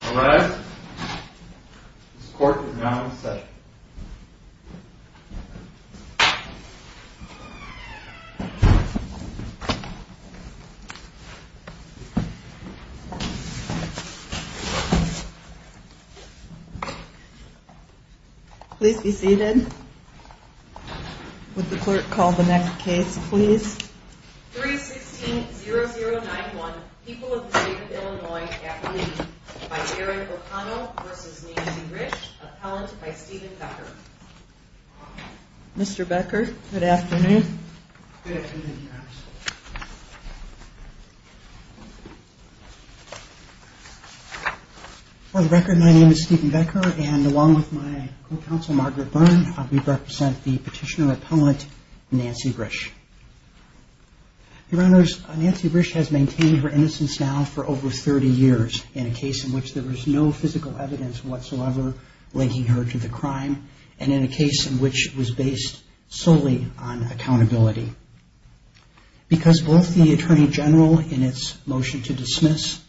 All right, this court is now in setting. Please be seated. Would the clerk call the next case, please? 3-16-0091, People of the State of Illinois, Appellee, by Eric O'Connell v. Nancy Rish, Appellant by Stephen Becker. Mr. Becker, good afternoon. For the record, my name is Stephen Becker, and along with my co-counsel, Margaret Byrne, we represent the petitioner-appellant Nancy Rish. Your Honors, Nancy Rish has maintained her innocence now for over 30 years in a case in which there was no physical evidence whatsoever linking her to the crime, and in a case in which it was based solely on accountability. Because both the Attorney General in its motion to dismiss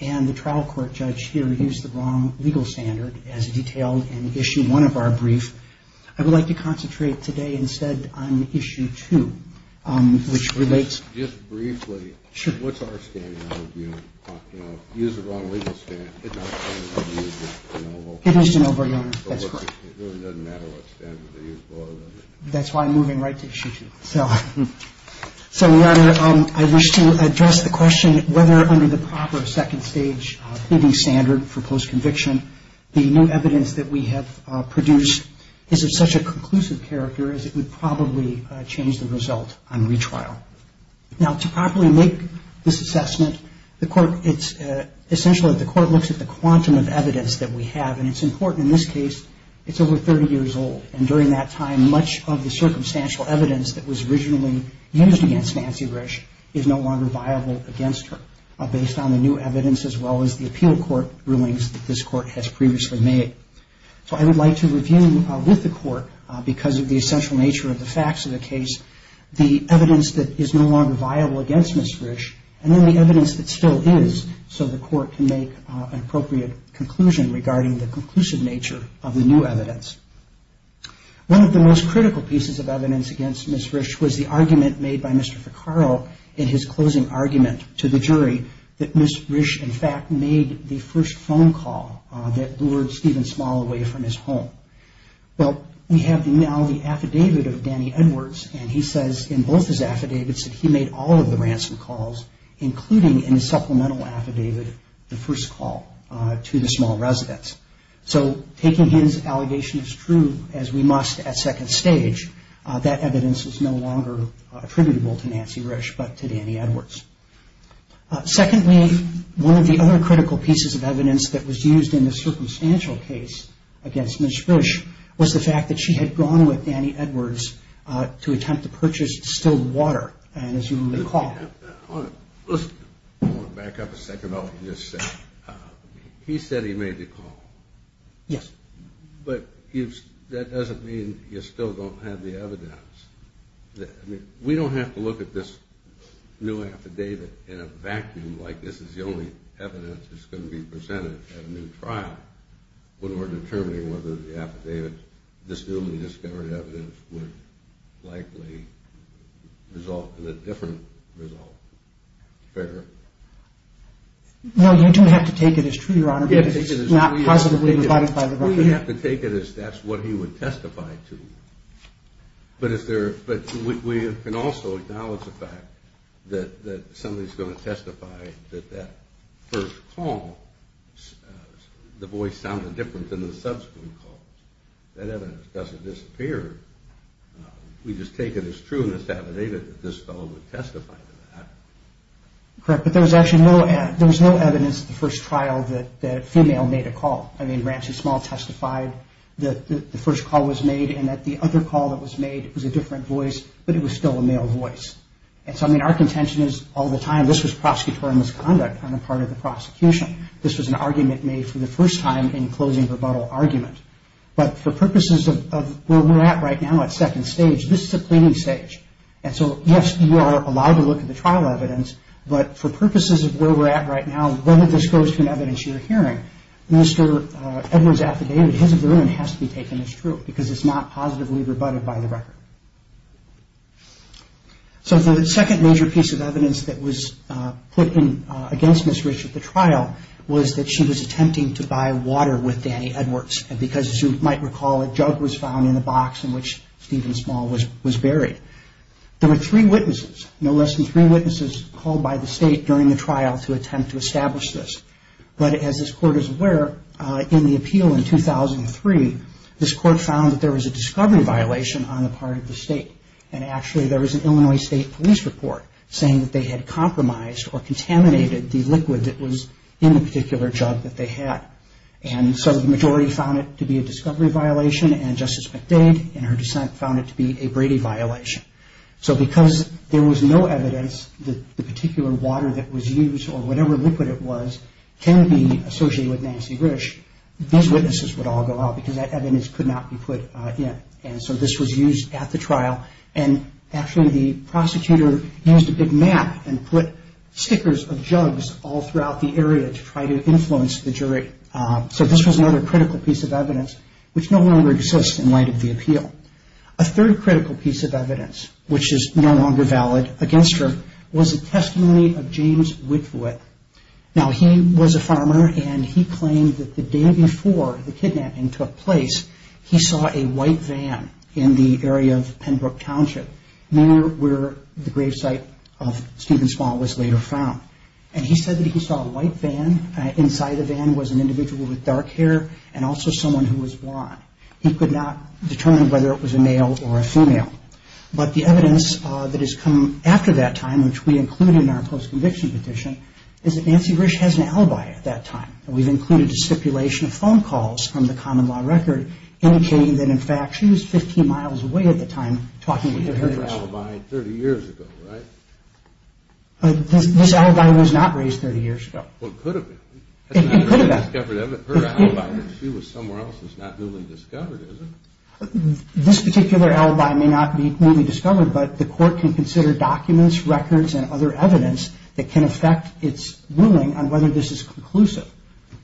and the trial court judge here used the wrong legal standard as detailed in Issue 1 of our brief, I would like to concentrate today instead on Issue 2, which relates... Just briefly, what's our standing on the view, you know, if you use the wrong legal standard, it's not going to be used in Oval. It is in Oval, Your Honor, that's correct. It really doesn't matter what standard they use, does it? That's why I'm moving right to Issue 2. So, Your Honor, I wish to address the question whether under the proper second-stage leading standard for post-conviction, the new evidence that we have produced is of such a conclusive character as it would probably change the result on retrial. Now, to properly make this assessment, the Court, it's essential that the Court looks at the quantum of evidence that we have, and it's important in this case, it's over 30 years old, and during that time, much of the circumstantial evidence that was originally used against Nancy Rish is no longer viable against her, based on the new evidence, as well as the appeal court rulings that this Court has previously made. So I would like to review with the Court, because of the essential nature of the facts of the case, the evidence that is no longer viable against Ms. Rish, and then the evidence that still is, so the Court can make an appropriate conclusion regarding the conclusive nature of the new evidence. One of the most critical pieces of evidence against Ms. Rish was the argument made by Mr. Ficarro in his closing argument to the jury that Ms. Rish, in fact, made the first phone call that lured Stephen Small away from his home. Well, we have now the affidavit of Danny Edwards, and he says in both his affidavits that he made all of the ransom calls, including in his supplemental affidavit, the first call to the small residence. So, taking his allegation as true, as we must at second stage, that evidence is no longer attributable to Nancy Rish, but to Danny Edwards. Secondly, one of the other critical pieces of evidence that was used in the circumstantial case against Ms. Rish was the fact that she had gone with Danny Edwards to attempt to purchase still water, and as you recall... Listen, I want to back up a second on what you just said. He said he made the call. Yes. But that doesn't mean you still don't have the evidence. We don't have to look at this new affidavit in a vacuum, like this is the only evidence that's going to be presented at a new trial, when we're determining whether the affidavit, this newly discovered evidence, would likely result in a different result. Fair? No, you don't have to take it as true, Your Honor, because it's not positively rebutted by the government. We don't have to take it as that's what he would testify to, but we can also acknowledge the fact that somebody's going to testify that that first call, the voice sounded different than the subsequent calls. That evidence doesn't disappear. We just take it as true in this affidavit that this fellow would testify to that. Correct, but there was actually no evidence at the first trial that a female made a call. I mean, Ransom Small testified that the first call was made, and that the other call that was made was a different voice, but it was still a male voice. And so, I mean, our contention is all the time this was prosecutorial misconduct on the part of the prosecution. This was an argument made for the first time in closing rebuttal argument. But for purposes of where we're at right now at second stage, this is a cleaning stage. And so, yes, you are allowed to look at the trial evidence, but for purposes of where we're at right now, whether this goes to an evidence you're hearing, Mr. Edwards' affidavit, his opinion has to be taken as true because it's not positively rebutted by the record. So the second major piece of evidence that was put in against Ms. Rich at the trial was that she was attempting to buy water with Danny Edwards. And because, as you might recall, a jug was found in the box in which Stephen Small was buried. There were three witnesses, no less than three witnesses, called by the state during the trial to attempt to establish this. But as this Court is aware, in the appeal in 2003, this Court found that there was a discovery violation on the part of the state. And actually, there was an Illinois State Police report saying that they had compromised or contaminated the liquid that was in the particular jug that they had. And so the majority found it to be a discovery violation, and Justice McDade, in her dissent, found it to be a Brady violation. So because there was no evidence that the particular water that was used, or whatever liquid it was, can be associated with Nancy Rich, these witnesses would all go out because that evidence could not be put in. And so this was used at the trial. And actually, the prosecutor used a big map and put stickers of jugs all throughout the area to try to influence the jury. So this was another critical piece of evidence, which no longer exists in light of the appeal. A third critical piece of evidence, which is no longer valid against her, was a testimony of James Whitworth. Now, he was a farmer, and he claimed that the day before the kidnapping took place, he saw a white van in the area of Pembroke Township, near where the gravesite of Stephen Small was later found. And he said that he saw a white van. Inside the van was an individual with dark hair and also someone who was blonde. He could not determine whether it was a male or a female. But the evidence that has come after that time, which we included in our close conviction petition, is that Nancy Rich has an alibi at that time. And we've included a stipulation of phone calls from the common law record indicating that, in fact, she was 15 miles away at the time talking with the jury. She had her alibi 30 years ago, right? This alibi was not raised 30 years ago. Well, it could have been. It could have been. That's not her alibi. She was somewhere else. It's not newly discovered, is it? This particular alibi may not be newly discovered, but the court can consider documents, records, and other evidence that can affect its ruling on whether this is conclusive.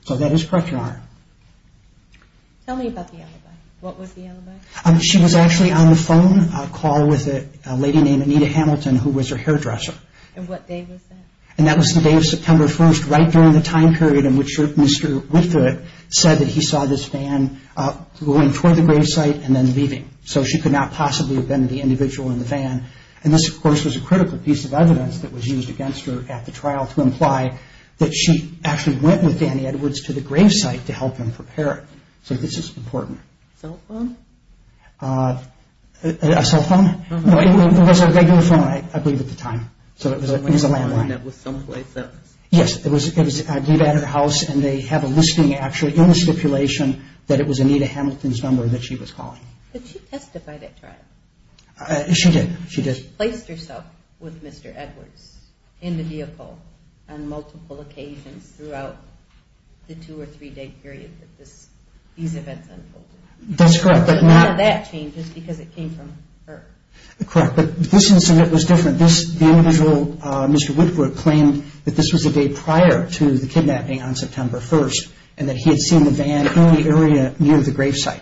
So that is correct, Your Honor. Tell me about the alibi. What was the alibi? She was actually on the phone call with a lady named Anita Hamilton, who was her hairdresser. And what day was that? And that was the day of September 1st, right during the time period in which Mr. Whitford said that he saw this van going toward the gravesite and then leaving. So she could not possibly have been the individual in the van. And this, of course, was a critical piece of evidence that was used against her at the trial to imply that she actually went with Danny Edwards to the gravesite to help him prepare it. So this is important. Cell phone? A cell phone? No, it was a regular phone, I believe, at the time. So it was a landline. It was a landline that was someplace else. Yes, it was at her house, and they have a listing, actually, in the stipulation that it was Anita Hamilton's number that she was calling. Did she testify at trial? She did. She did. She placed herself with Mr. Edwards in the vehicle on multiple occasions throughout the two- or three-day period that these events unfolded. That's correct. But none of that changes because it came from her. Correct. But this incident was different. The individual, Mr. Whitford, claimed that this was the day prior to the kidnapping on September 1st and that he had seen the van in the area near the gravesite.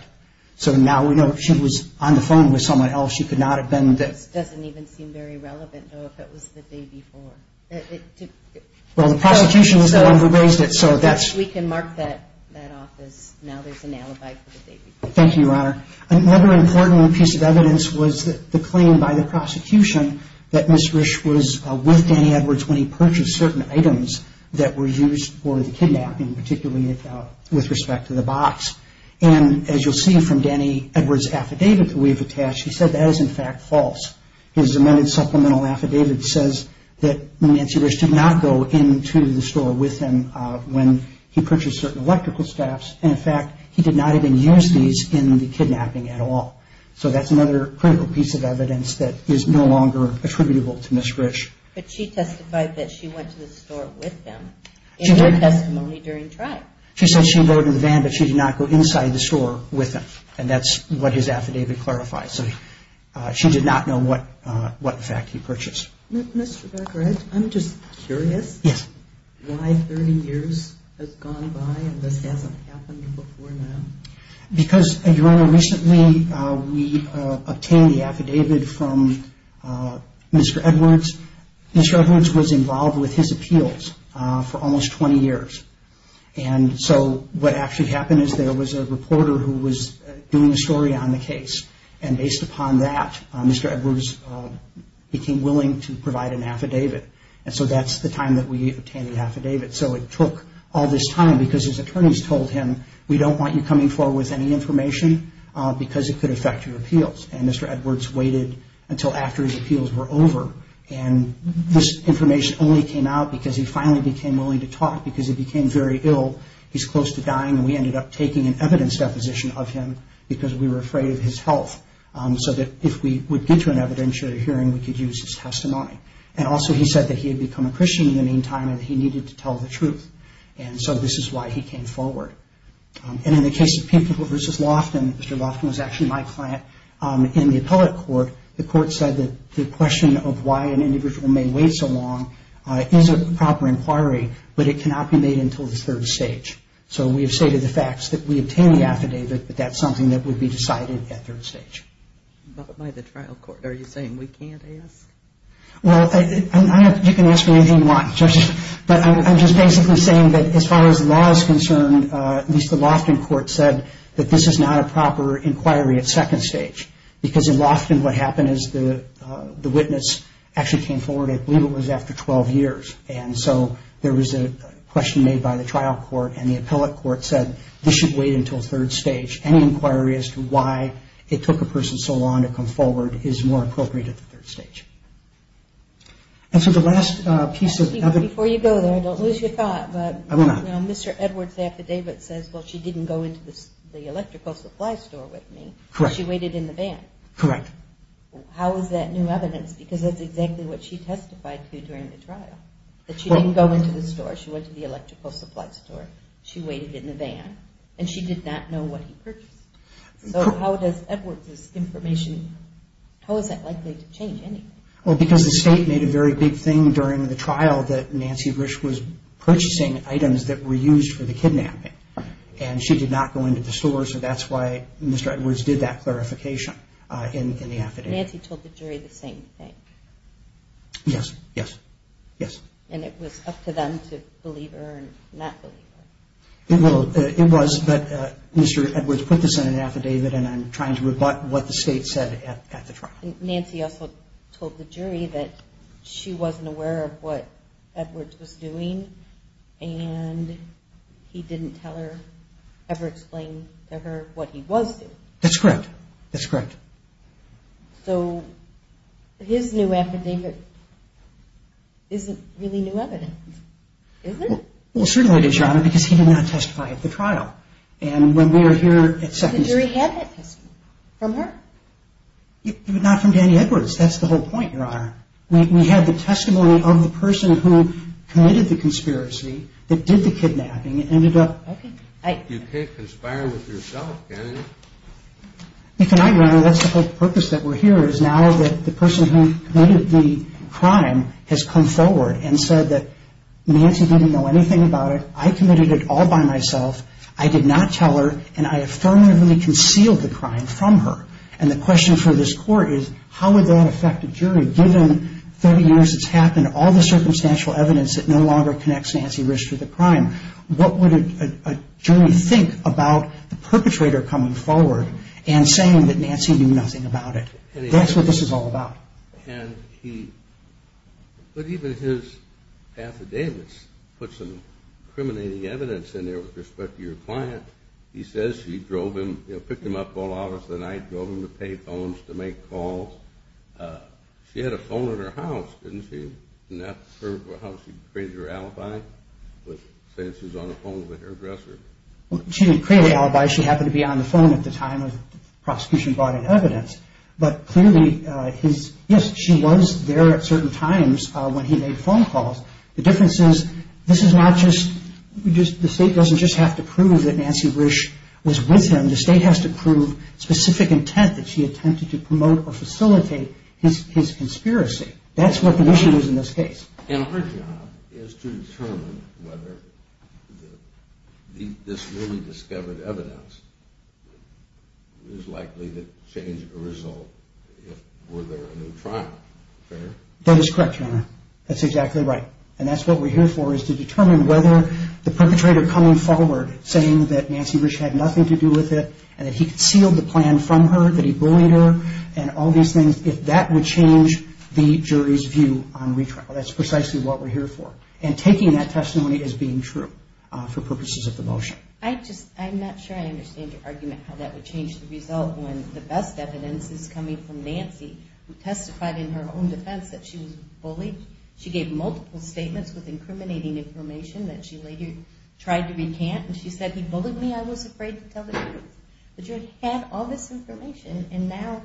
So now we know she was on the phone with someone else. She could not have been the- This doesn't even seem very relevant, though, if it was the day before. Well, the prosecution was the one who raised it, so that's- We can mark that off as now there's an alibi for the day before. Thank you, Your Honor. Another important piece of evidence was the claim by the prosecution that Ms. Risch was with Danny Edwards when he purchased certain items that were used for the kidnapping, particularly with respect to the box. And as you'll see from Danny Edwards' affidavit that we've attached, he said that is, in fact, false. His amended supplemental affidavit says that Nancy Risch did not go into the store with him when he purchased certain electrical staffs, and, in fact, he did not even use these in the kidnapping at all. So that's another critical piece of evidence that is no longer attributable to Ms. Risch. But she testified that she went to the store with him in her testimony during trial. She said she rode in the van, but she did not go inside the store with him, and that's what his affidavit clarifies. So she did not know what fact he purchased. Mr. Becker, I'm just curious why 30 years has gone by and this hasn't happened before now. Because, Your Honor, recently we obtained the affidavit from Mr. Edwards. Mr. Edwards was involved with his appeals for almost 20 years, and so what actually happened is there was a reporter who was doing a story on the case, and based upon that, Mr. Edwards became willing to provide an affidavit. And so that's the time that we obtained the affidavit. So it took all this time because his attorneys told him, we don't want you coming forward with any information because it could affect your appeals. And Mr. Edwards waited until after his appeals were over, and this information only came out because he finally became willing to talk because he became very ill, he's close to dying, and we ended up taking an evidence deposition of him because we were afraid of his health, so that if we would get to an evidentiary hearing, we could use his testimony. And also he said that he had become a Christian in the meantime and he needed to tell the truth, and so this is why he came forward. And in the case of Pinknickle v. Loftin, Mr. Loftin was actually my client, in the appellate court, the court said that the question of why an individual may wait so long is a proper inquiry, but it cannot be made until the third stage. So we have stated the facts that we obtained the affidavit, but that's something that would be decided at third stage. But by the trial court, are you saying we can't ask? Well, you can ask me anything you want, but I'm just basically saying that as far as the law is concerned, at least the Loftin court said that this is not a proper inquiry at second stage because in Loftin what happened is the witness actually came forward, I believe it was after 12 years, and so there was a question made by the trial court and the appellate court said this should wait until third stage. Any inquiry as to why it took a person so long to come forward is more appropriate at the third stage. And so the last piece of evidence. Before you go there, don't lose your thought, but Mr. Edwards' affidavit says, well, she didn't go into the electrical supply store with me. Correct. She waited in the van. Correct. How is that new evidence? Because that's exactly what she testified to during the trial, that she didn't go into the store, she went to the electrical supply store, she waited in the van, and she did not know what he purchased. So how does Edwards' information, how is that likely to change anything? Well, because the state made a very big thing during the trial that Nancy Rich was purchasing items that were used for the kidnapping, and she did not go into the store, so that's why Mr. Edwards did that clarification in the affidavit. Nancy told the jury the same thing. Yes, yes, yes. And it was up to them to believe her and not believe her. It was, but Mr. Edwards put this in an affidavit, and I'm trying to rebut what the state said at the trial. Nancy also told the jury that she wasn't aware of what Edwards was doing, and he didn't tell her, ever explain to her what he was doing. That's correct. That's correct. So his new affidavit isn't really new evidence, is it? Well, certainly it is, Your Honor, because he did not testify at the trial. And when we were here at Second Street... The jury had that testimony from her. But not from Danny Edwards. That's the whole point, Your Honor. We had the testimony of the person who committed the conspiracy, that did the kidnapping, and ended up... Okay. You can't conspire with yourself, can you? You cannot, Your Honor. That's the whole purpose that we're here, is now that the person who committed the crime has come forward and said that Nancy didn't know anything about it, I committed it all by myself, I did not tell her, and I affirmatively concealed the crime from her. And the question for this Court is, how would that affect a jury given 30 years it's happened, all the circumstantial evidence that no longer connects Nancy Rich to the crime? What would a jury think about the perpetrator coming forward and saying that Nancy knew nothing about it? That's what this is all about. And he... But even his affidavits put some incriminating evidence in there with respect to your client. He says she drove him, you know, picked him up all hours of the night, drove him to pay phones, to make calls. She had a phone in her house, didn't she? Isn't that how she created her alibi? Saying she was on the phone with her dresser? She didn't create an alibi. She happened to be on the phone at the time the prosecution brought in evidence. But clearly, yes, she was there at certain times when he made phone calls. The difference is, this is not just... The State doesn't just have to prove that Nancy Rich was with him. The State has to prove specific intent that she attempted to promote or facilitate his conspiracy. That's what the issue is in this case. And her job is to determine whether this newly discovered evidence is likely to change a result if there were a new trial. Fair? That is correct, Your Honor. That's exactly right. And that's what we're here for is to determine whether the perpetrator coming forward saying that Nancy Rich had nothing to do with it, and that he concealed the plan from her, that he bullied her, and all these things, if that would change the jury's view on retrial. That's precisely what we're here for. And taking that testimony as being true for purposes of the motion. I'm not sure I understand your argument how that would change the result when the best evidence is coming from Nancy, who testified in her own defense that she was bullied. She gave multiple statements with incriminating information that she later tried to recant. And she said, He bullied me. I was afraid to tell the truth. The jury had all this information, and now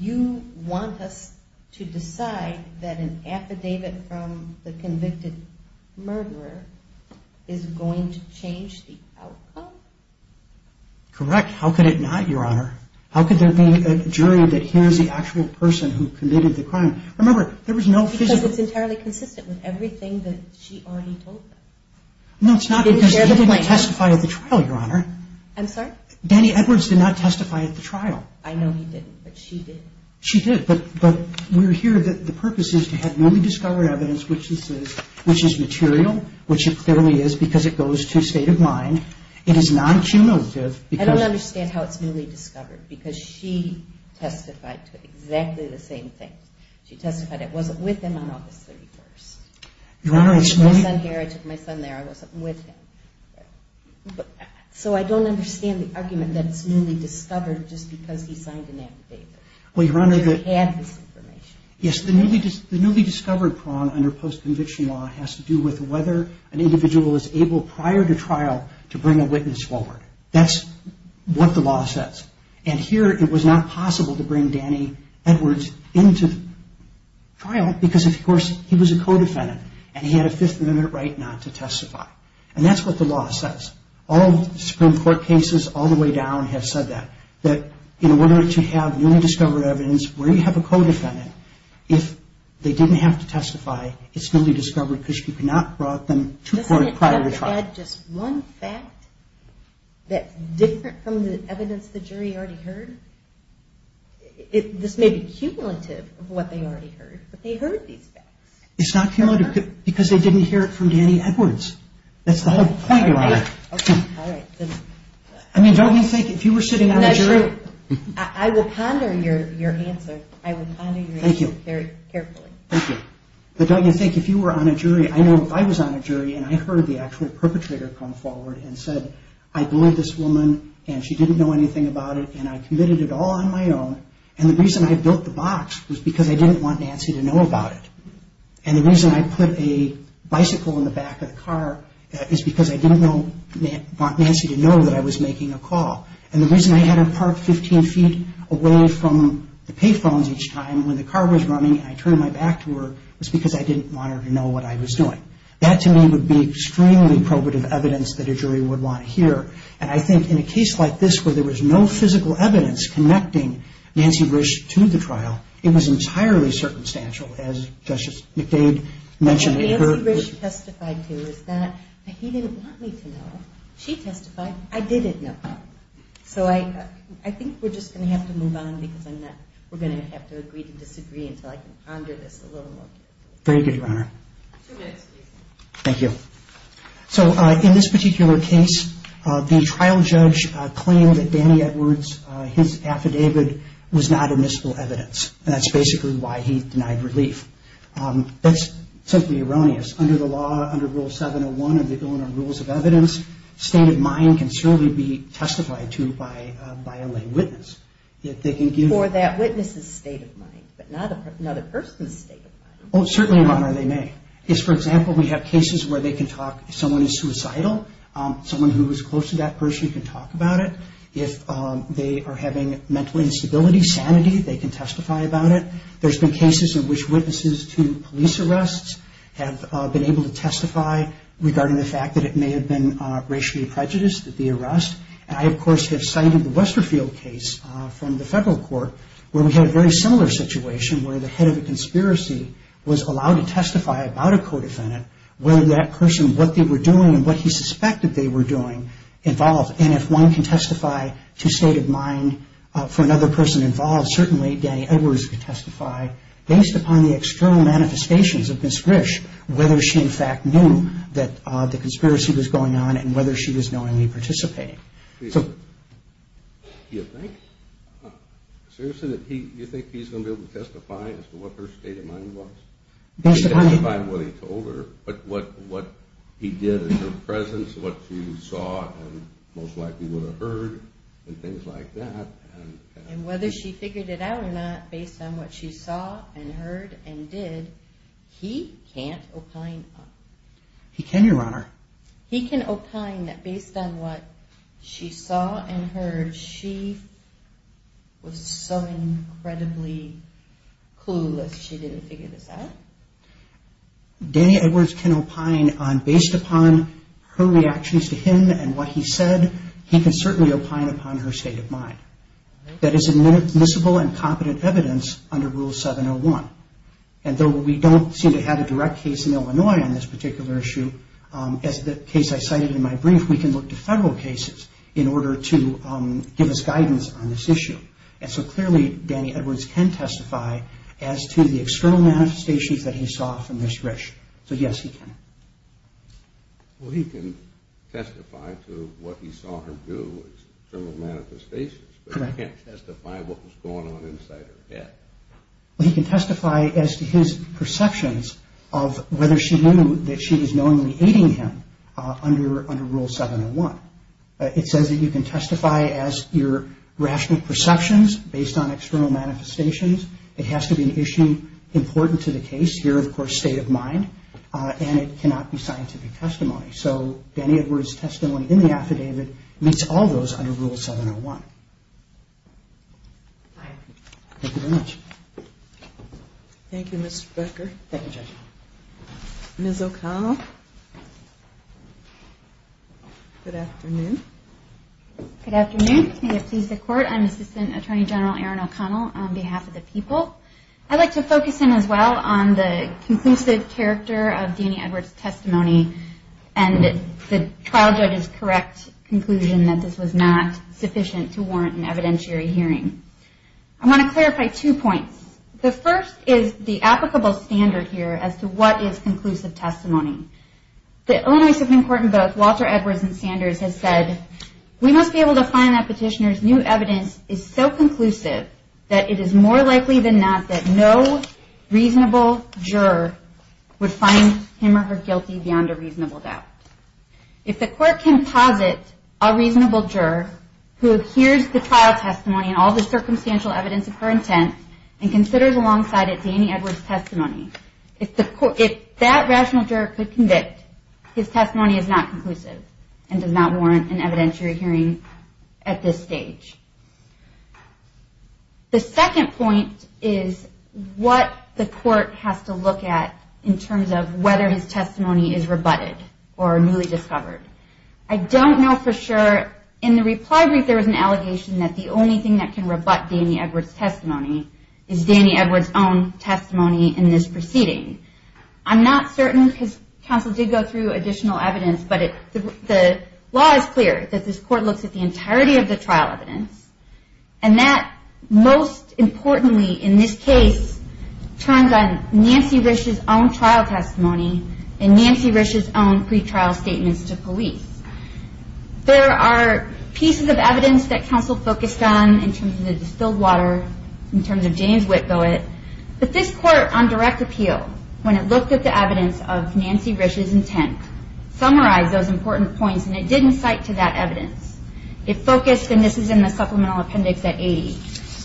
you want us to decide that an affidavit from the convicted murderer is going to change the outcome? Correct. How could it not, Your Honor? How could there be a jury that hears the actual person who committed the crime? Remember, there was no fission. Because it's entirely consistent with everything that she already told them. No, it's not because he didn't testify at the trial, Your Honor. I'm sorry? Danny Edwards did not testify at the trial. I know he didn't, but she did. She did, but we're here. The purpose is to have newly discovered evidence which is material, which it clearly is because it goes to state of mind. It is non-cumulative. I don't understand how it's newly discovered, because she testified to exactly the same thing. She testified it wasn't with him on August 31st. I took my son there. I wasn't with him. So I don't understand the argument that it's newly discovered just because he signed an affidavit. The jury had this information. Yes, the newly discovered prong under post-conviction law has to do with whether an individual is able prior to trial to bring a witness forward. That's what the law says. And here it was not possible to bring Danny Edwards into trial because, of course, he was a co-defendant and he had a Fifth Amendment right not to testify. And that's what the law says. All Supreme Court cases all the way down have said that, that in order to have newly discovered evidence where you have a co-defendant, if they didn't have to testify, it's newly discovered because she could not have brought them to court prior to trial. Can I add just one fact that's different from the evidence the jury already heard? This may be cumulative of what they already heard, but they heard these facts. It's not cumulative because they didn't hear it from Danny Edwards. That's the whole point, Your Honor. Okay, all right. I mean, don't you think if you were sitting on a jury... I will ponder your answer. I will ponder your answer very carefully. Thank you. But don't you think if you were on a jury, I know if I was on a jury and I heard the actual perpetrator come forward and said, I believe this woman and she didn't know anything about it and I committed it all on my own and the reason I built the box was because I didn't want Nancy to know about it. And the reason I put a bicycle in the back of the car is because I didn't want Nancy to know that I was making a call. And the reason I had her parked 15 feet away from the pay phones each time when the car was running and I turned my back to her was because I didn't want her to know what I was doing. That, to me, would be extremely probative evidence that a jury would want to hear. And I think in a case like this where there was no physical evidence connecting Nancy Rich to the trial, it was entirely circumstantial, as Justice McDade mentioned... What Nancy Rich testified to is that he didn't want me to know. She testified, I didn't know. So I think we're just going to have to move on because we're going to have to agree to disagree until I can ponder this a little more. Very good, Your Honor. Thank you. So in this particular case, the trial judge claimed that Danny Edwards, his affidavit was not admissible evidence. And that's basically why he denied relief. That's simply erroneous. Under the law, under Rule 701 of the Illinois Rules of Evidence, state of mind can certainly be testified to by a lay witness. Or that witness's state of mind, but not another person's state of mind. Oh, certainly, Your Honor, they may. For example, we have cases where someone is suicidal. Someone who is close to that person can talk about it. If they are having mental instability, sanity, they can testify about it. There's been cases in which witnesses to police arrests have been able to testify regarding the fact that it may have been racially prejudiced, the arrest. I, of course, have cited the Westerfield case from the federal court where we had a very similar situation where the head of a conspiracy was allowed to testify about a co-defendant, whether that person, what they were doing and what he suspected they were doing, involved. And if one can testify to state of mind for another person involved, certainly Danny Edwards could testify based upon the external manifestations of Ms. Grish, whether she, in fact, knew that the conspiracy was going on and whether she was knowingly participating. Do you think he's going to be able to testify as to what her state of mind was? She testified what he told her, but what he did in her presence, what she saw and most likely would have heard, and things like that. And whether she figured it out or not based on what she saw and heard and did, he can't opine on it. He can, Your Honor. He can opine that based on what she saw and heard, she was so incredibly clueless she didn't figure this out? Danny Edwards can opine on, based upon her reactions to him and what he said, he can certainly opine upon her state of mind. That is admissible and competent evidence under Rule 701. We can testify on this particular issue. As the case I cited in my brief, we can look to federal cases in order to give us guidance on this issue. And so clearly, Danny Edwards can testify as to the external manifestations that he saw from Ms. Grish. So, yes, he can. Well, he can testify to what he saw her do, external manifestations, but he can't testify what was going on inside her head. He can testify as to his perceptions of whether she knew that she was knowingly aiding him under Rule 701. It says that you can testify as your rational perceptions based on external manifestations. It has to be an issue important to the case, your, of course, state of mind, and it cannot be scientific testimony. So Danny Edwards' testimony in the affidavit meets all those under Rule 701. Thank you very much. Thank you, Mr. Becker. Thank you, Judge. Ms. O'Connell, good afternoon. Good afternoon. May it please the Court, I'm Assistant Attorney General Erin O'Connell on behalf of the people. I'd like to focus in as well on the conclusive character of Danny Edwards' testimony and the trial judge's correct conclusion that this was not sufficient to warrant an evidentiary hearing. I want to clarify two points. The first is the applicable standard here as to what is conclusive testimony. The Illinois Supreme Court in both Walter Edwards and Sanders has said we must be able to find that petitioner's new evidence is so conclusive that it is more likely than not that no reasonable juror would find him or her guilty beyond a reasonable doubt. If the Court can posit a reasonable juror who adheres to trial testimony and all the circumstantial evidence of her intent and considers alongside it Danny Edwards' testimony, if that rational juror could convict, his testimony is not conclusive and does not warrant an evidentiary hearing at this stage. The second point is what the Court has to look at in terms of whether his testimony is rebutted or newly discovered. I don't know for sure. In the reply brief there was an allegation that the only thing that can rebut Danny Edwards' testimony is Danny Edwards' own testimony in this proceeding. I'm not certain. His counsel did go through additional evidence, but the law is clear that this Court looks at the entirety of the trial evidence and that most importantly in this case turns on Nancy Risch's own trial testimony and Nancy Risch's own pretrial statements to police. There are pieces of evidence that counsel focused on in terms of the distilled water, in terms of James Whitgill, but this Court on direct appeal, when it looked at the evidence of Nancy Risch's intent, summarized those important points and it didn't cite to that evidence. It focused, and this is in the supplemental appendix at 80,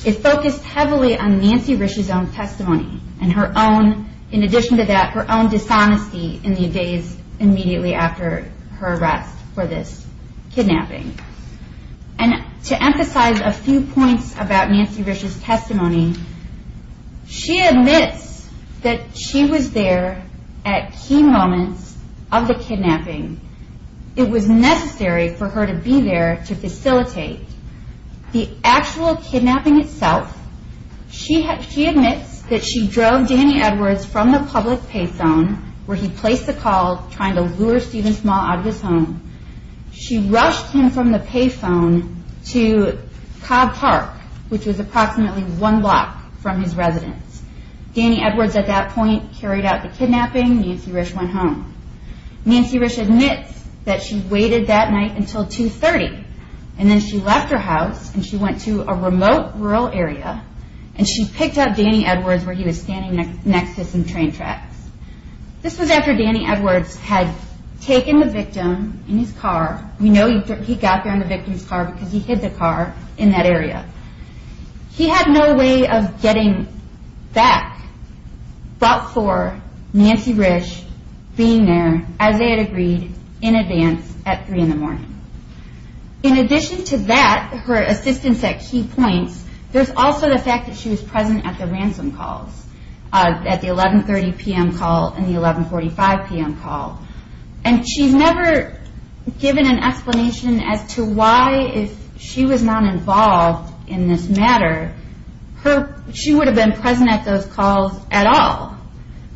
it focused heavily on Nancy Risch's own testimony and her own, in addition to that, her own dishonesty in the days immediately after her arrest for this kidnapping. And to emphasize a few points about Nancy Risch's testimony, she admits that she was there at key moments of the kidnapping. It was necessary for her to be there to facilitate the actual kidnapping itself. She admits that she drove Danny Edwards from the public pay phone where he placed the call trying to lure Stephen Small out of his home. She rushed him from the pay phone to Cobb Park, which was approximately one block from his residence. Danny Edwards at that point carried out the kidnapping. Nancy Risch went home. Nancy Risch admits that she waited that night until 2.30 and then she left her house and she went to a remote rural area and she picked up Danny Edwards where he was standing next to some train tracks. This was after Danny Edwards had taken the victim in his car. We know he got there in the victim's car because he hid the car in that area. He had no way of getting back but for Nancy Risch being there, Isaiah agreed in advance at 3 in the morning. In addition to that, her assistance at key points, there's also the fact that she was present at the ransom calls at the 11.30 p.m. call and the 11.45 p.m. call. And she's never given an explanation as to why if she was not involved in this matter, she would have been present at those calls at all.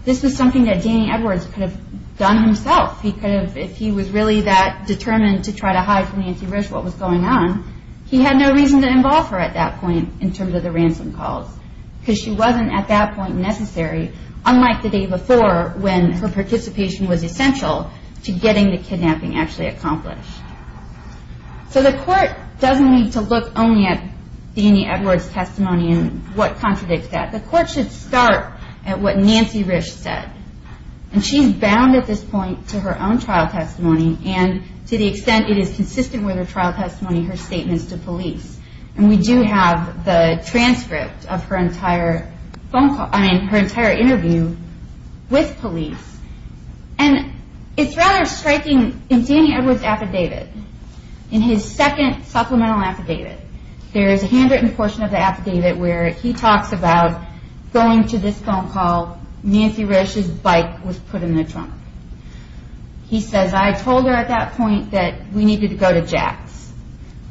This was something that Danny Edwards could have done himself. If he was really that determined to try to hide from Nancy Risch what was going on, he had no reason to involve her at that point in terms of the ransom calls because she wasn't at that point necessary, unlike the day before when her participation was essential to getting the kidnapping actually accomplished. So the court doesn't need to look only at Danny Edwards' testimony and what contradicts that. The court should start at what Nancy Risch said. And she's bound at this point to her own trial testimony and to the extent it is consistent with her trial testimony, her statements to police. And we do have the transcript of her entire interview with police. And it's rather striking in Danny Edwards' affidavit, in his second supplemental affidavit, there is a handwritten portion of the affidavit where he talks about going to this phone call, Nancy Risch's bike was put in the trunk. He says, I told her at that point that we needed to go to Jack's.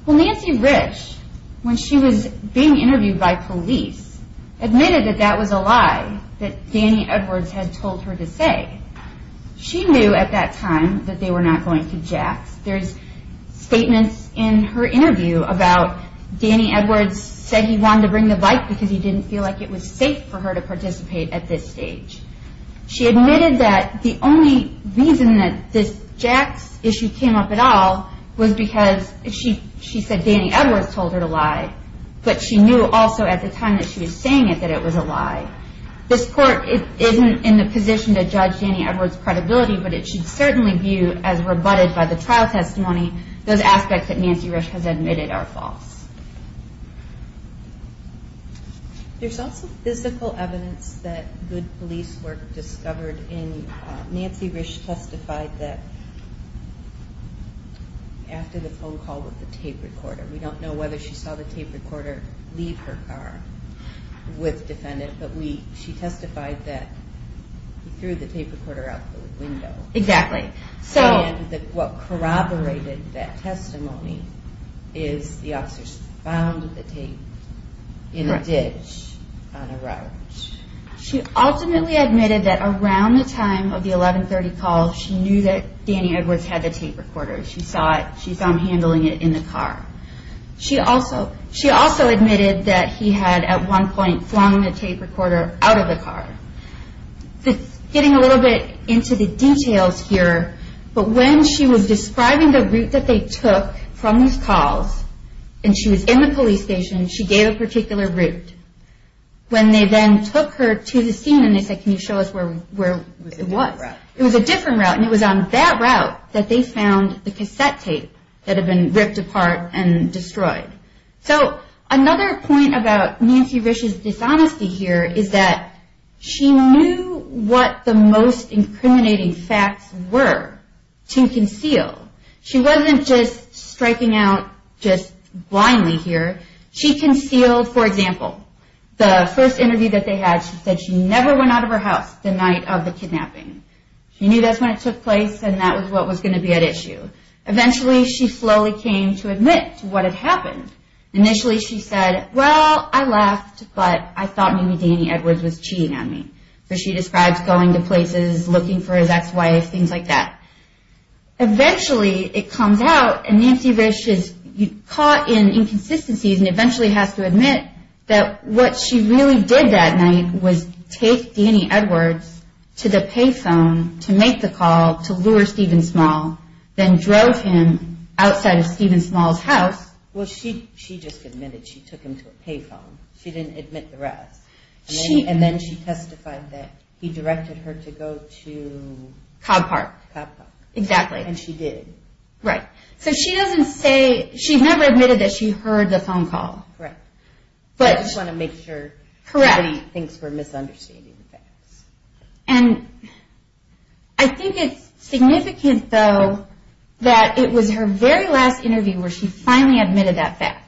Well, Nancy Risch, when she was being interviewed by police, admitted that that was a lie that Danny Edwards had told her to say. She knew at that time that they were not going to Jack's. There's statements in her interview about Danny Edwards saying he wanted to bring the bike because he didn't feel like it was safe for her to participate at this stage. She admitted that the only reason that this Jack's issue came up at all was because she said Danny Edwards told her to lie, but she knew also at the time that she was saying it that it was a lie. This court isn't in a position to judge Danny Edwards' credibility, but it should certainly view as rebutted by the trial testimony those aspects that Nancy Risch has admitted are false. There's also physical evidence that good police work discovered. Nancy Risch testified that after the phone call with the tape recorder, we don't know whether she saw the tape recorder leave her car with defendants, but she testified that he threw the tape recorder out the window. What corroborated that testimony is the officers found the tape in a ditch on a road. She ultimately admitted that around the time of the 1130 call, she knew that Danny Edwards had the tape recorder. She saw him handling it in the car. She also admitted that he had at one point flung the tape recorder out of the car. Getting a little bit into the details here, but when she was describing the route that they took from these calls, and she was in the police station, she gave a particular route. When they then took her to the scene and they said, can you show us where it was? It was a different route. It was a different route, and it was on that route that they found the cassette tape that had been ripped apart and destroyed. Another point about Nancy Risch's dishonesty here is that she knew what the most incriminating facts were to conceal. She wasn't just striking out just blindly here. She concealed, for example, the first interview that they had, she said she never went out of her house the night of the kidnapping. She knew that's when it took place and that was what was going to be at issue. Eventually, she slowly came to admit to what had happened. Initially, she said, well, I left, but I thought maybe Danny Edwards was cheating on me. So she describes going to places, looking for his ex-wife, things like that. Eventually, it comes out, and Nancy Risch is caught in inconsistencies and eventually has to admit that what she really did that night was take Danny Edwards to the pay phone to make the call to lure Stephen Small, then drove him outside of Stephen Small's house. Well, she just admitted she took him to a pay phone. She didn't admit the rest. And then she testified that he directed her to go to Cobb Park. Exactly. And she did. Right. So she doesn't say, she never admitted that she heard the phone call. Correct. I just want to make sure nobody thinks we're misunderstanding the facts. And I think it's significant, though, that it was her very last interview where she finally admitted that fact.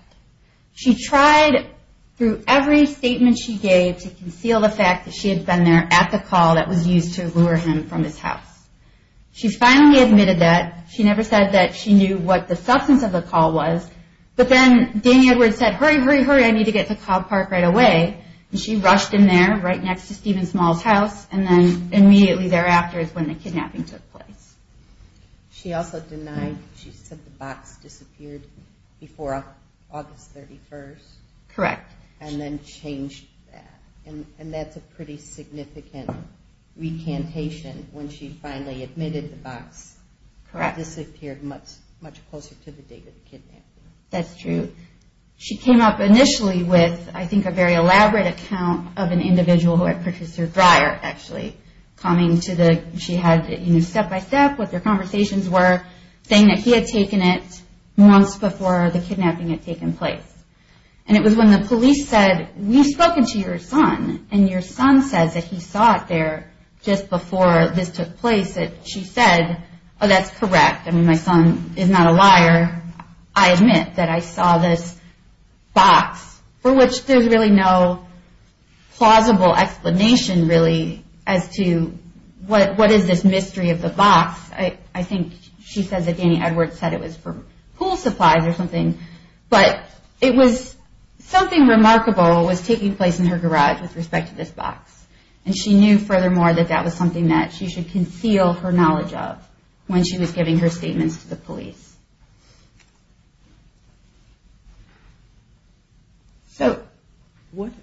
She tried through every statement she gave to conceal the fact that she had been there at the call that was used to lure him from his house. She finally admitted that. She never said that she knew what the substance of the call was. But then Danny Edwards said, hurry, hurry, hurry, I need to get to Cobb Park right away. And she rushed in there right next to Stephen Small's house, and then immediately thereafter is when the kidnapping took place. She also denied, she said the box disappeared before August 31st. Correct. And then changed that. And that's a pretty significant recantation when she finally admitted the box disappeared much closer to the date of the kidnapping. That's true. She came up initially with, I think, a very elaborate account of an individual who had purchased her dryer, actually. Coming to the, she had step-by-step what their conversations were, saying that he had taken it months before the kidnapping had taken place. And it was when the police said, we've spoken to your son, and your son says that he saw it there just before this took place, that she said, oh, that's correct. I mean, my son is not a liar. I admit that I saw this box, for which there's really no plausible explanation, really, as to what is this mystery of the box. I think she says that Danny Edwards said it was for pool supplies or something. But it was something remarkable was taking place in her garage with respect to this box. And she knew, furthermore, that that was something that she should conceal her knowledge of when she was giving her statements to the police.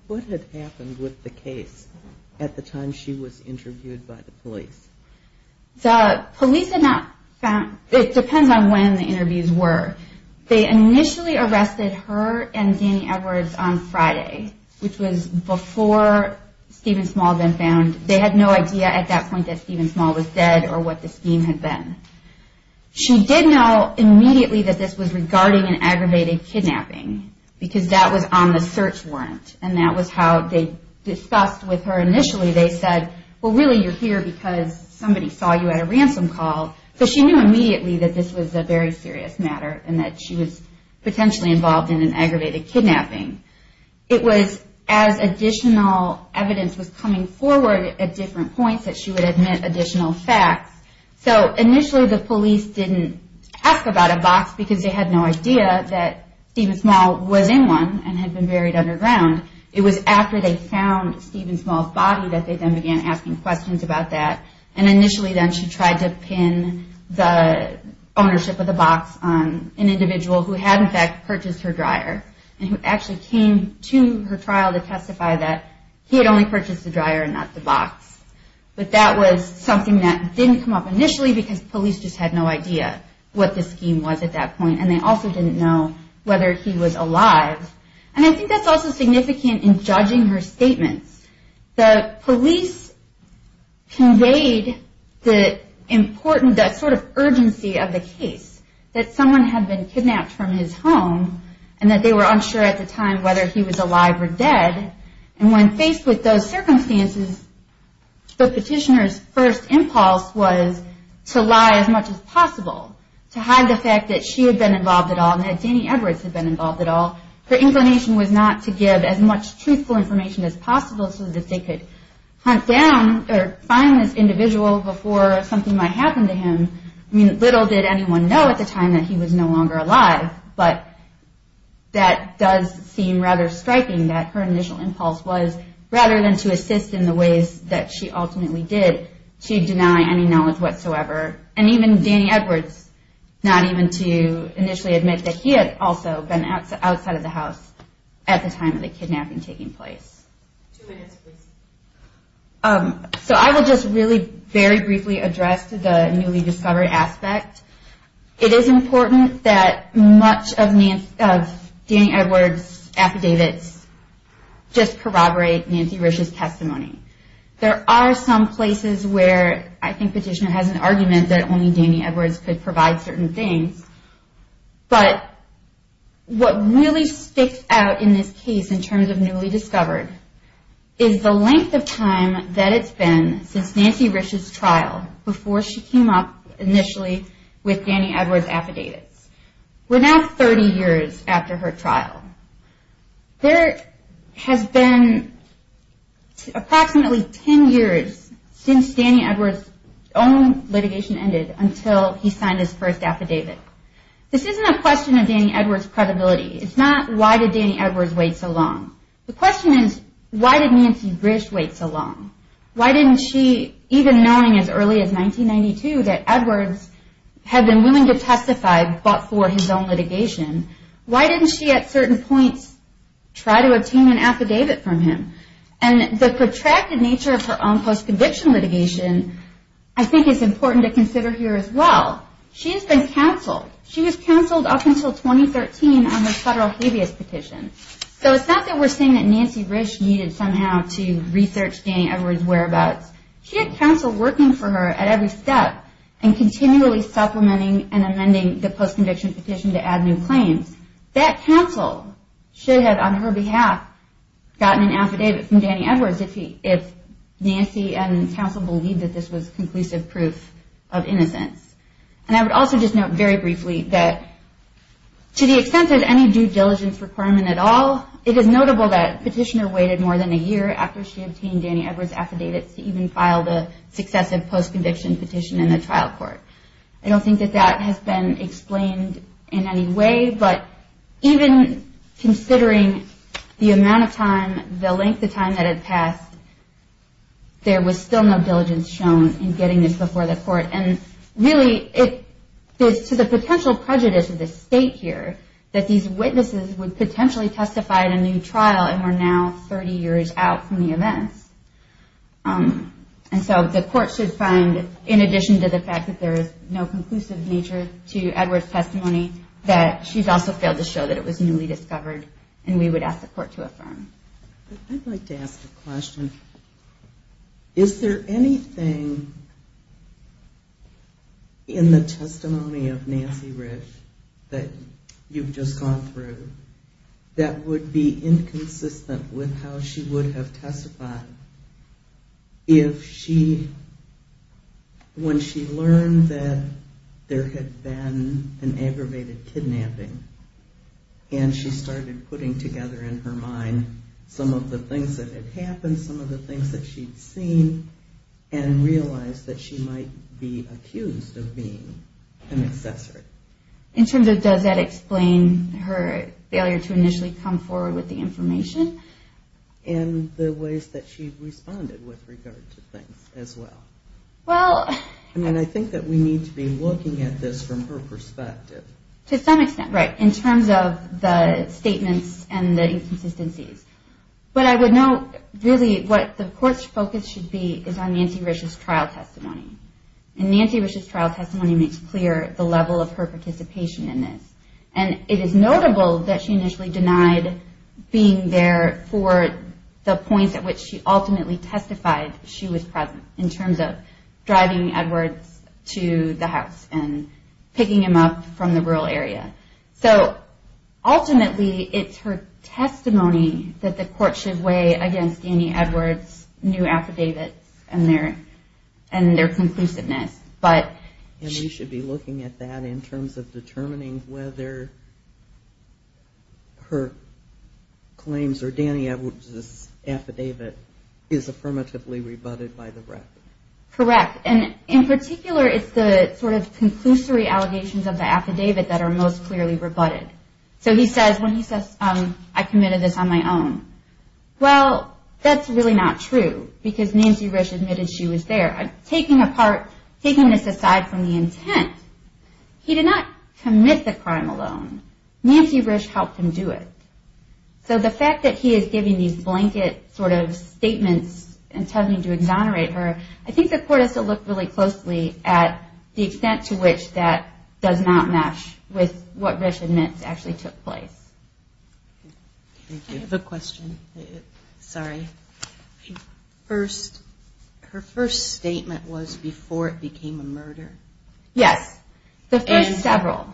What had happened with the case at the time she was interviewed by the police? The police had not found, it depends on when the interviews were. They initially arrested her and Danny Edwards on Friday, which was before Stephen Small had been found. They had no idea at that point that Stephen Small was dead or what the scheme had been. She did know immediately that this was regarding an aggravated kidnapping because that was on the search warrant. And that was how they discussed with her initially. They said, well, really, you're here because somebody saw you at a ransom call. So she knew immediately that this was a very serious matter and that she was potentially involved in an aggravated kidnapping. It was as additional evidence was coming forward at different points that she would admit additional facts. So initially the police didn't ask about a box because they had no idea that Stephen Small was in one and had been buried underground. It was after they found Stephen Small's body that they then began asking questions about that. And initially then she tried to pin the ownership of the box on an individual who had in fact purchased her dryer and who actually came to her trial to testify that he had only purchased the dryer and not the box. But that was something that didn't come up initially because police just had no idea what the scheme was at that point. And they also didn't know whether he was alive. And I think that's also significant in judging her statements. The police conveyed the importance, that sort of urgency of the case that someone had been kidnapped from his home and that they were unsure at the time whether he was alive or dead. And when faced with those circumstances, the petitioner's first impulse was to lie as much as possible. To hide the fact that she had been involved at all and that Danny Edwards had been involved at all. Her inclination was not to give as much truthful information as possible so that they could hunt down or find this individual before something might happen to him. I mean, little did anyone know at the time that he was no longer alive. But that does seem rather striking that her initial impulse was rather than to assist in the ways that she ultimately did, to deny any knowledge whatsoever. And even Danny Edwards, not even to initially admit that he had also been outside of the house at the time of the kidnapping taking place. Two minutes, please. So I will just really very briefly address the newly discovered aspect. It is important that much of Danny Edwards' affidavits just corroborate Nancy Rich's testimony. There are some places where I think petitioner has an argument that only Danny Edwards could provide certain things. But what really sticks out in this case in terms of newly discovered is the length of time that it's been since Nancy Rich's trial before she came up initially with Danny Edwards' affidavits. We're now 30 years after her trial. There has been approximately 10 years since Danny Edwards' own litigation ended until he signed his first affidavit. This isn't a question of Danny Edwards' credibility. It's not why did Danny Edwards wait so long. The question is, why did Nancy Rich wait so long? Why didn't she, even knowing as early as 1992 that Edwards had been willing to testify but for his own litigation, why didn't she at certain points try to obtain an affidavit from him? And the protracted nature of her own post-conviction litigation I think is important to consider here as well. She has been counseled. She was counseled up until 2013 on her federal habeas petition. So it's not that we're saying that Nancy Rich needed somehow to research Danny Edwards' whereabouts. She had counsel working for her at every step and continually supplementing and amending the post-conviction petition to add new claims. That counsel should have, on her behalf, gotten an affidavit from Danny Edwards if Nancy and counsel believed that this was conclusive proof of innocence. And I would also just note very briefly that to the extent of any due diligence requirement at all it is notable that petitioner waited more than a year after she obtained Danny Edwards' affidavits to even file the successive post-conviction petition in the trial court. I don't think that that has been explained in any way but even considering the amount of time, the length of time that had passed there was still no diligence shown in getting this before the court and really to the potential prejudice of the state here that these witnesses would potentially testify in a new trial and were now 30 years out from the events. And so the court should find, in addition to the fact that there is no conclusive nature to Edwards' testimony that she's also failed to show that it was newly discovered and we would ask the court to affirm. I'd like to ask a question. Is there anything in the testimony of Nancy Rich that you've just gone through that would be inconsistent with how she would have testified if she, when she learned that there had been an aggravated kidnapping and she started putting together in her mind some of the things that had happened some of the things that she'd seen and realized that she might be accused of being an assessor? In terms of does that explain her failure to initially come forward with the information? And the ways that she responded with regard to things as well. Well... And I think that we need to be looking at this from her perspective. To some extent, right. In terms of the statements and the inconsistencies. But I would note really what the court's focus should be is on Nancy Rich's trial testimony. And Nancy Rich's trial testimony makes clear the level of her participation in this. And it is notable that she initially denied being there for the points at which she ultimately testified she was present in terms of driving Edwards to the house and picking him up from the rural area. So ultimately it's her testimony that the court should weigh against Danny Edwards' new affidavits and their conclusiveness. And we should be looking at that in terms of determining whether her claims or Danny Edwards' affidavit is affirmatively rebutted by the rec. Correct. And in particular, it's the sort of conclusory allegations of the affidavit that are most clearly rebutted. So he says, when he says, I committed this on my own. Well, that's really not true because Nancy Rich admitted she was there. Taking this aside from the intent, he did not commit the crime alone. Nancy Rich helped him do it. So the fact that he is giving these blanket sort of statements and telling him to exonerate her, I think the court has to look really closely at the extent to which that does not mesh with what Rich admits actually took place. I have a question. Sorry. Her first statement was before it became a murder. Yes. The first several.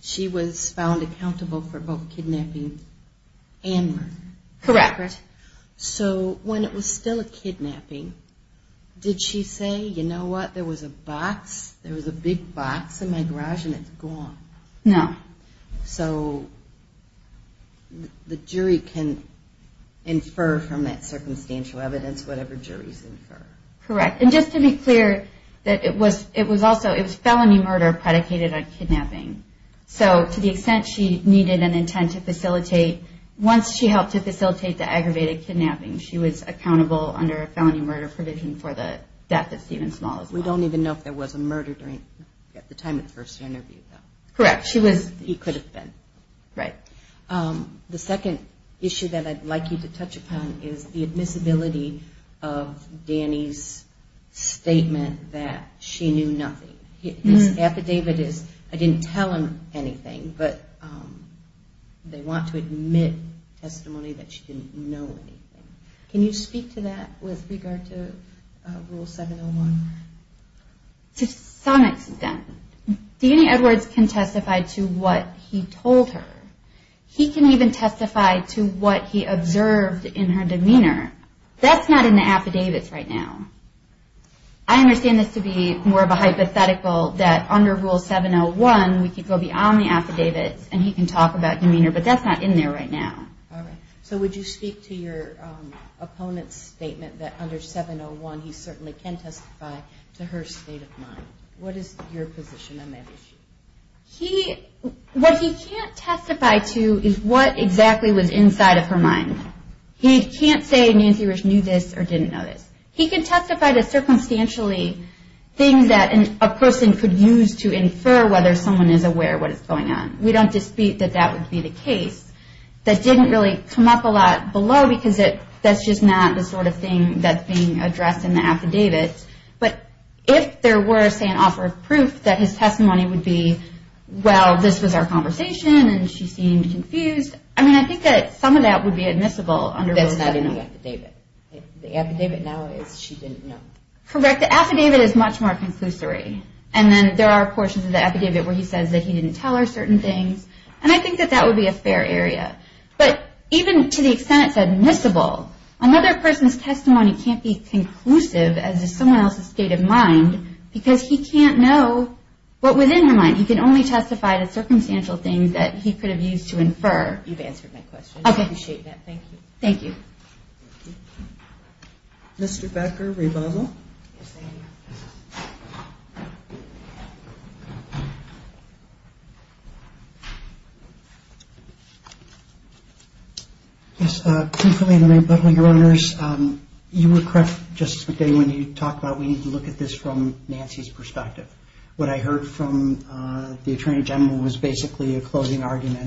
She was found accountable for both kidnapping and murder. Correct. So when it was still a kidnapping, did she say, you know what, there was a box, there was a big box in my garage and it's gone? No. So the jury can infer from that circumstantial evidence whatever juries infer. Correct. And just to be clear, it was felony murder predicated on kidnapping. So to the extent she needed an intent to facilitate, once she helped to facilitate the aggravated kidnapping, she was accountable under a felony murder provision for the death of Stephen Small. We don't even know if there was a murder at the time of the first interview. Correct. He could have been. Right. The second issue that I'd like you to touch upon is the admissibility of Danny's statement that she knew nothing. This affidavit is, I didn't tell him anything, but they want to admit testimony that she didn't know anything. Can you speak to that with regard to Rule 701? To some extent. Danny Edwards can testify to what he told her. He can even testify to what he observed in her demeanor. That's not in the affidavits right now. I understand this to be more of a hypothetical that under Rule 701 we could go beyond the affidavits and he can talk about demeanor, but that's not in there right now. All right. So would you speak to your opponent's statement that under 701 he certainly can testify to her state of mind? What is your position on that issue? What he can't testify to is what exactly was inside of her mind. He can't say Nancy Rich knew this or didn't know this. He can testify to circumstantially things that a person could use to infer whether someone is aware of what is going on. We don't dispute that that would be the case. That didn't really come up a lot below because that's just not the sort of thing that's being addressed in the affidavits. But if there were, say, an offer of proof that his testimony would be, well, this was our conversation and she seemed confused, I mean, I think that some of that would be admissible under Rule 701. But the affidavit now is she didn't know. Correct. The affidavit is much more conclusory, and then there are portions of the affidavit where he says that he didn't tell her certain things, and I think that that would be a fair area. But even to the extent it's admissible, another person's testimony can't be conclusive as to someone else's state of mind because he can't know what was in her mind. He can only testify to circumstantial things that he could have used to infer. You've answered my question. Okay. I appreciate that. Thank you. Thank you. Mr. Becker, rebuttal. Yes, thank you. Yes. Thank you for the rebuttal, Your Honors. You were correct, Justice McDaniel, when you talked about we need to look at this from Nancy's perspective. What I heard from the Attorney General was basically a closing argument in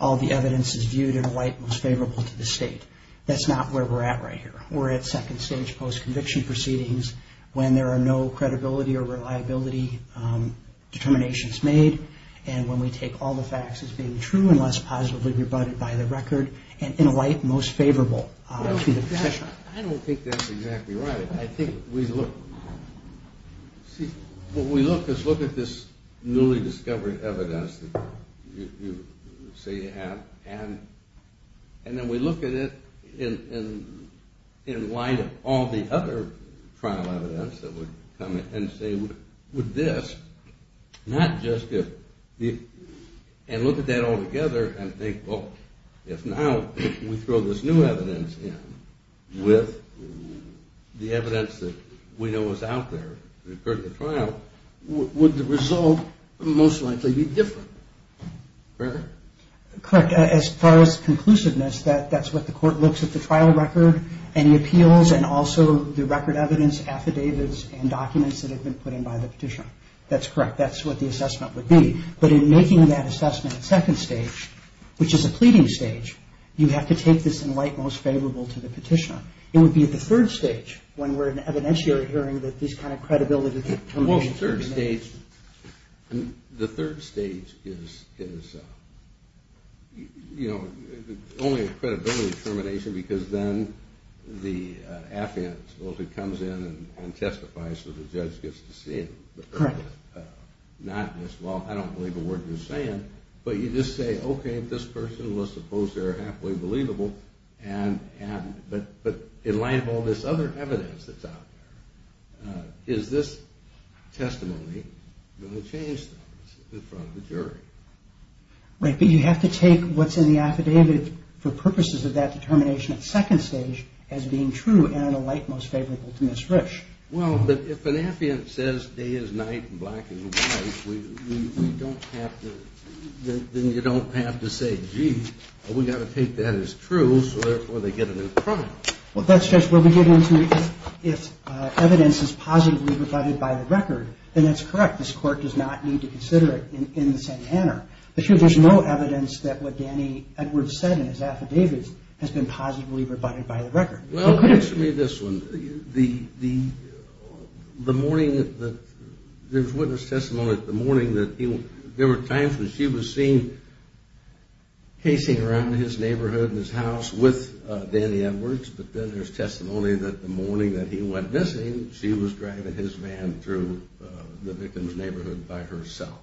a light most favorable to the state. That's not where we're at right here. We're at second stage post-conviction proceedings when there are no credibility or reliability determinations made, and when we take all the facts as being true unless positively rebutted by the record, and in a light most favorable to the professional. I don't think that's exactly right. I think we look at this newly discovered evidence that you say you have, and then we look at it in light of all the other trial evidence that would come in and say, would this, not just if, and look at that all together and think, well, if now we throw this new evidence in with the evidence that we know is out there that occurred at the trial, would the result most likely be different? Correct? Correct. As far as conclusiveness, that's what the court looks at the trial record, any appeals, and also the record evidence, affidavits, and documents that have been put in by the petitioner. That's correct. That's what the assessment would be. But in making that assessment at second stage, which is a pleading stage, you have to take this in light most favorable to the petitioner. It would be at the third stage when we're at an evidentiary hearing that these kind of credibility determinations are being made. The third stage is only a credibility determination because then the affidavit supposedly comes in and testifies so the judge gets to see it. Correct. Not just, well, I don't believe a word you're saying, but you just say, okay, this person was supposed to be happily believable, but in light of all this other evidence that's out there, is this testimony going to change things in front of the jury? Right. But you have to take what's in the affidavit for purposes of that determination at second stage as being true and in a light most favorable to Ms. Rich. Well, if an affidavit says day is night and black is white, then you don't have to say, gee, we've got to take that as true, so therefore they get a new trial. Well, that's just where we get into if evidence is positively rebutted by the record, then that's correct. This court does not need to consider it in the same manner. There's no evidence that what Danny Edwards said in his affidavit has been positively rebutted by the record. Well, answer me this one. The morning that there was witness testimony, the morning that there were times when she was seen casing around in his car with Danny Edwards, but then there's testimony that the morning that he went missing, she was driving his van through the victim's neighborhood by herself.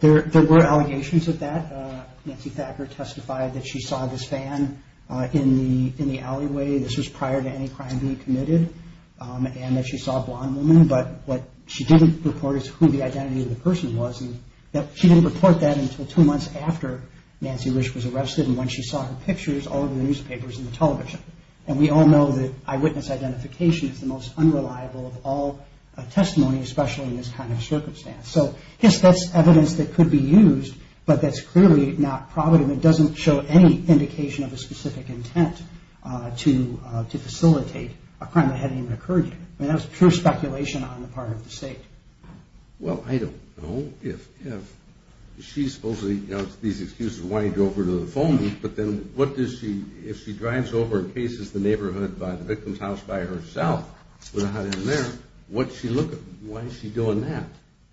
There were allegations of that. Nancy Thacker testified that she saw this van in the alleyway. This was prior to any crime being committed, and that she saw a blonde woman, but what she didn't report is who the identity of the person was. She didn't report that until two months after Nancy Rich was arrested, and when she saw her pictures all over the newspapers and the television. And we all know that eyewitness identification is the most unreliable of all testimony, especially in this kind of circumstance. So, yes, that's evidence that could be used, but that's clearly not provident. It doesn't show any indication of a specific intent to facilitate a crime that hadn't even occurred yet. I mean, that was pure speculation on the part of the State. Well, I don't know if she's supposed to, you know, these excuses of wanting to go over to the phone booth, but then what does she, if she drives over and cases the neighborhood by the victim's house by herself, without him there, what's she looking, why is she doing that?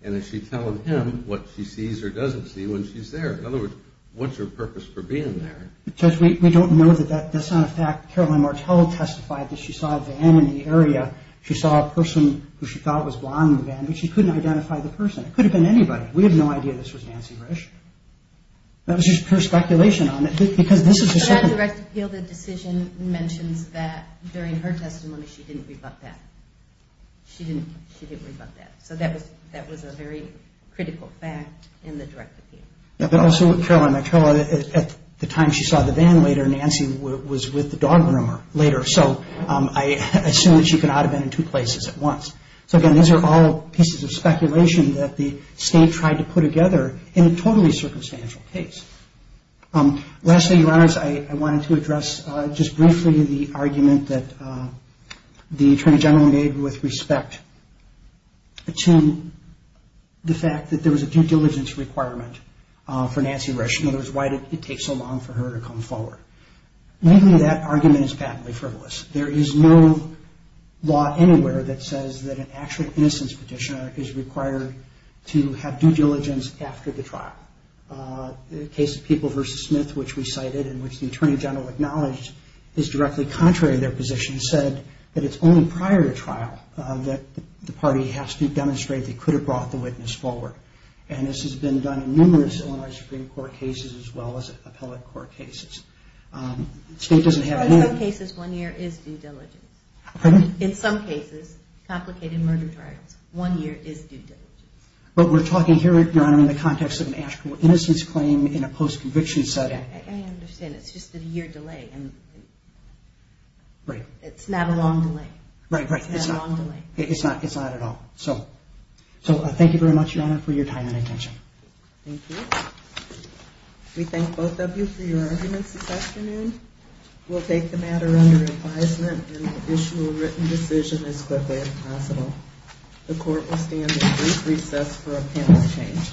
And is she telling him what she sees or doesn't see when she's there? In other words, what's her purpose for being there? Judge, we don't know that that's not a fact. Caroline Martello testified that she saw a van in the area. She saw a person who she thought was blind in the van, but she couldn't identify the person. It could have been anybody. We have no idea this was Nancy Risch. That was just pure speculation on it, because this is a certain... But on direct appeal, the decision mentions that during her testimony she didn't rebut that. She didn't rebut that. So that was a very critical fact in the direct appeal. But also, Caroline Martello, at the time she saw the van later, Nancy was with the dog groomer later. So I assume that she could not have been in two places at once. So, again, these are all pieces of speculation that the state tried to put together in a totally circumstantial case. Lastly, Your Honors, I wanted to address just briefly the argument that the Attorney General made with respect to the fact that there was a due diligence requirement for Nancy Risch. In other words, why did it take so long for her to come forward? Mainly that argument is patently frivolous. There is no law anywhere that says that an actual innocence petitioner is required to have due diligence after the trial. The case of People v. Smith, which we cited and which the Attorney General acknowledged is directly contrary to their position, said that it's only prior to trial that the party has to demonstrate they could have brought the witness forward. And this has been done in numerous Illinois Supreme Court cases as well as appellate court cases. The state doesn't have a name. In some cases, one year is due diligence. Pardon? In some cases, complicated murder trials, one year is due diligence. But we're talking here, Your Honor, in the context of an actual innocence claim in a post-conviction setting. I understand. It's just a year delay. Right. It's not a long delay. Right, right. It's not. It's not a long delay. It's not. It's not at all. So thank you very much, Your Honor, for your time and attention. Thank you. We thank both of you for your arguments this afternoon. We'll take the matter under advisement and issue a written decision as quickly as possible. The court will stand at brief recess for a panel exchange. All right. Court is adjourned.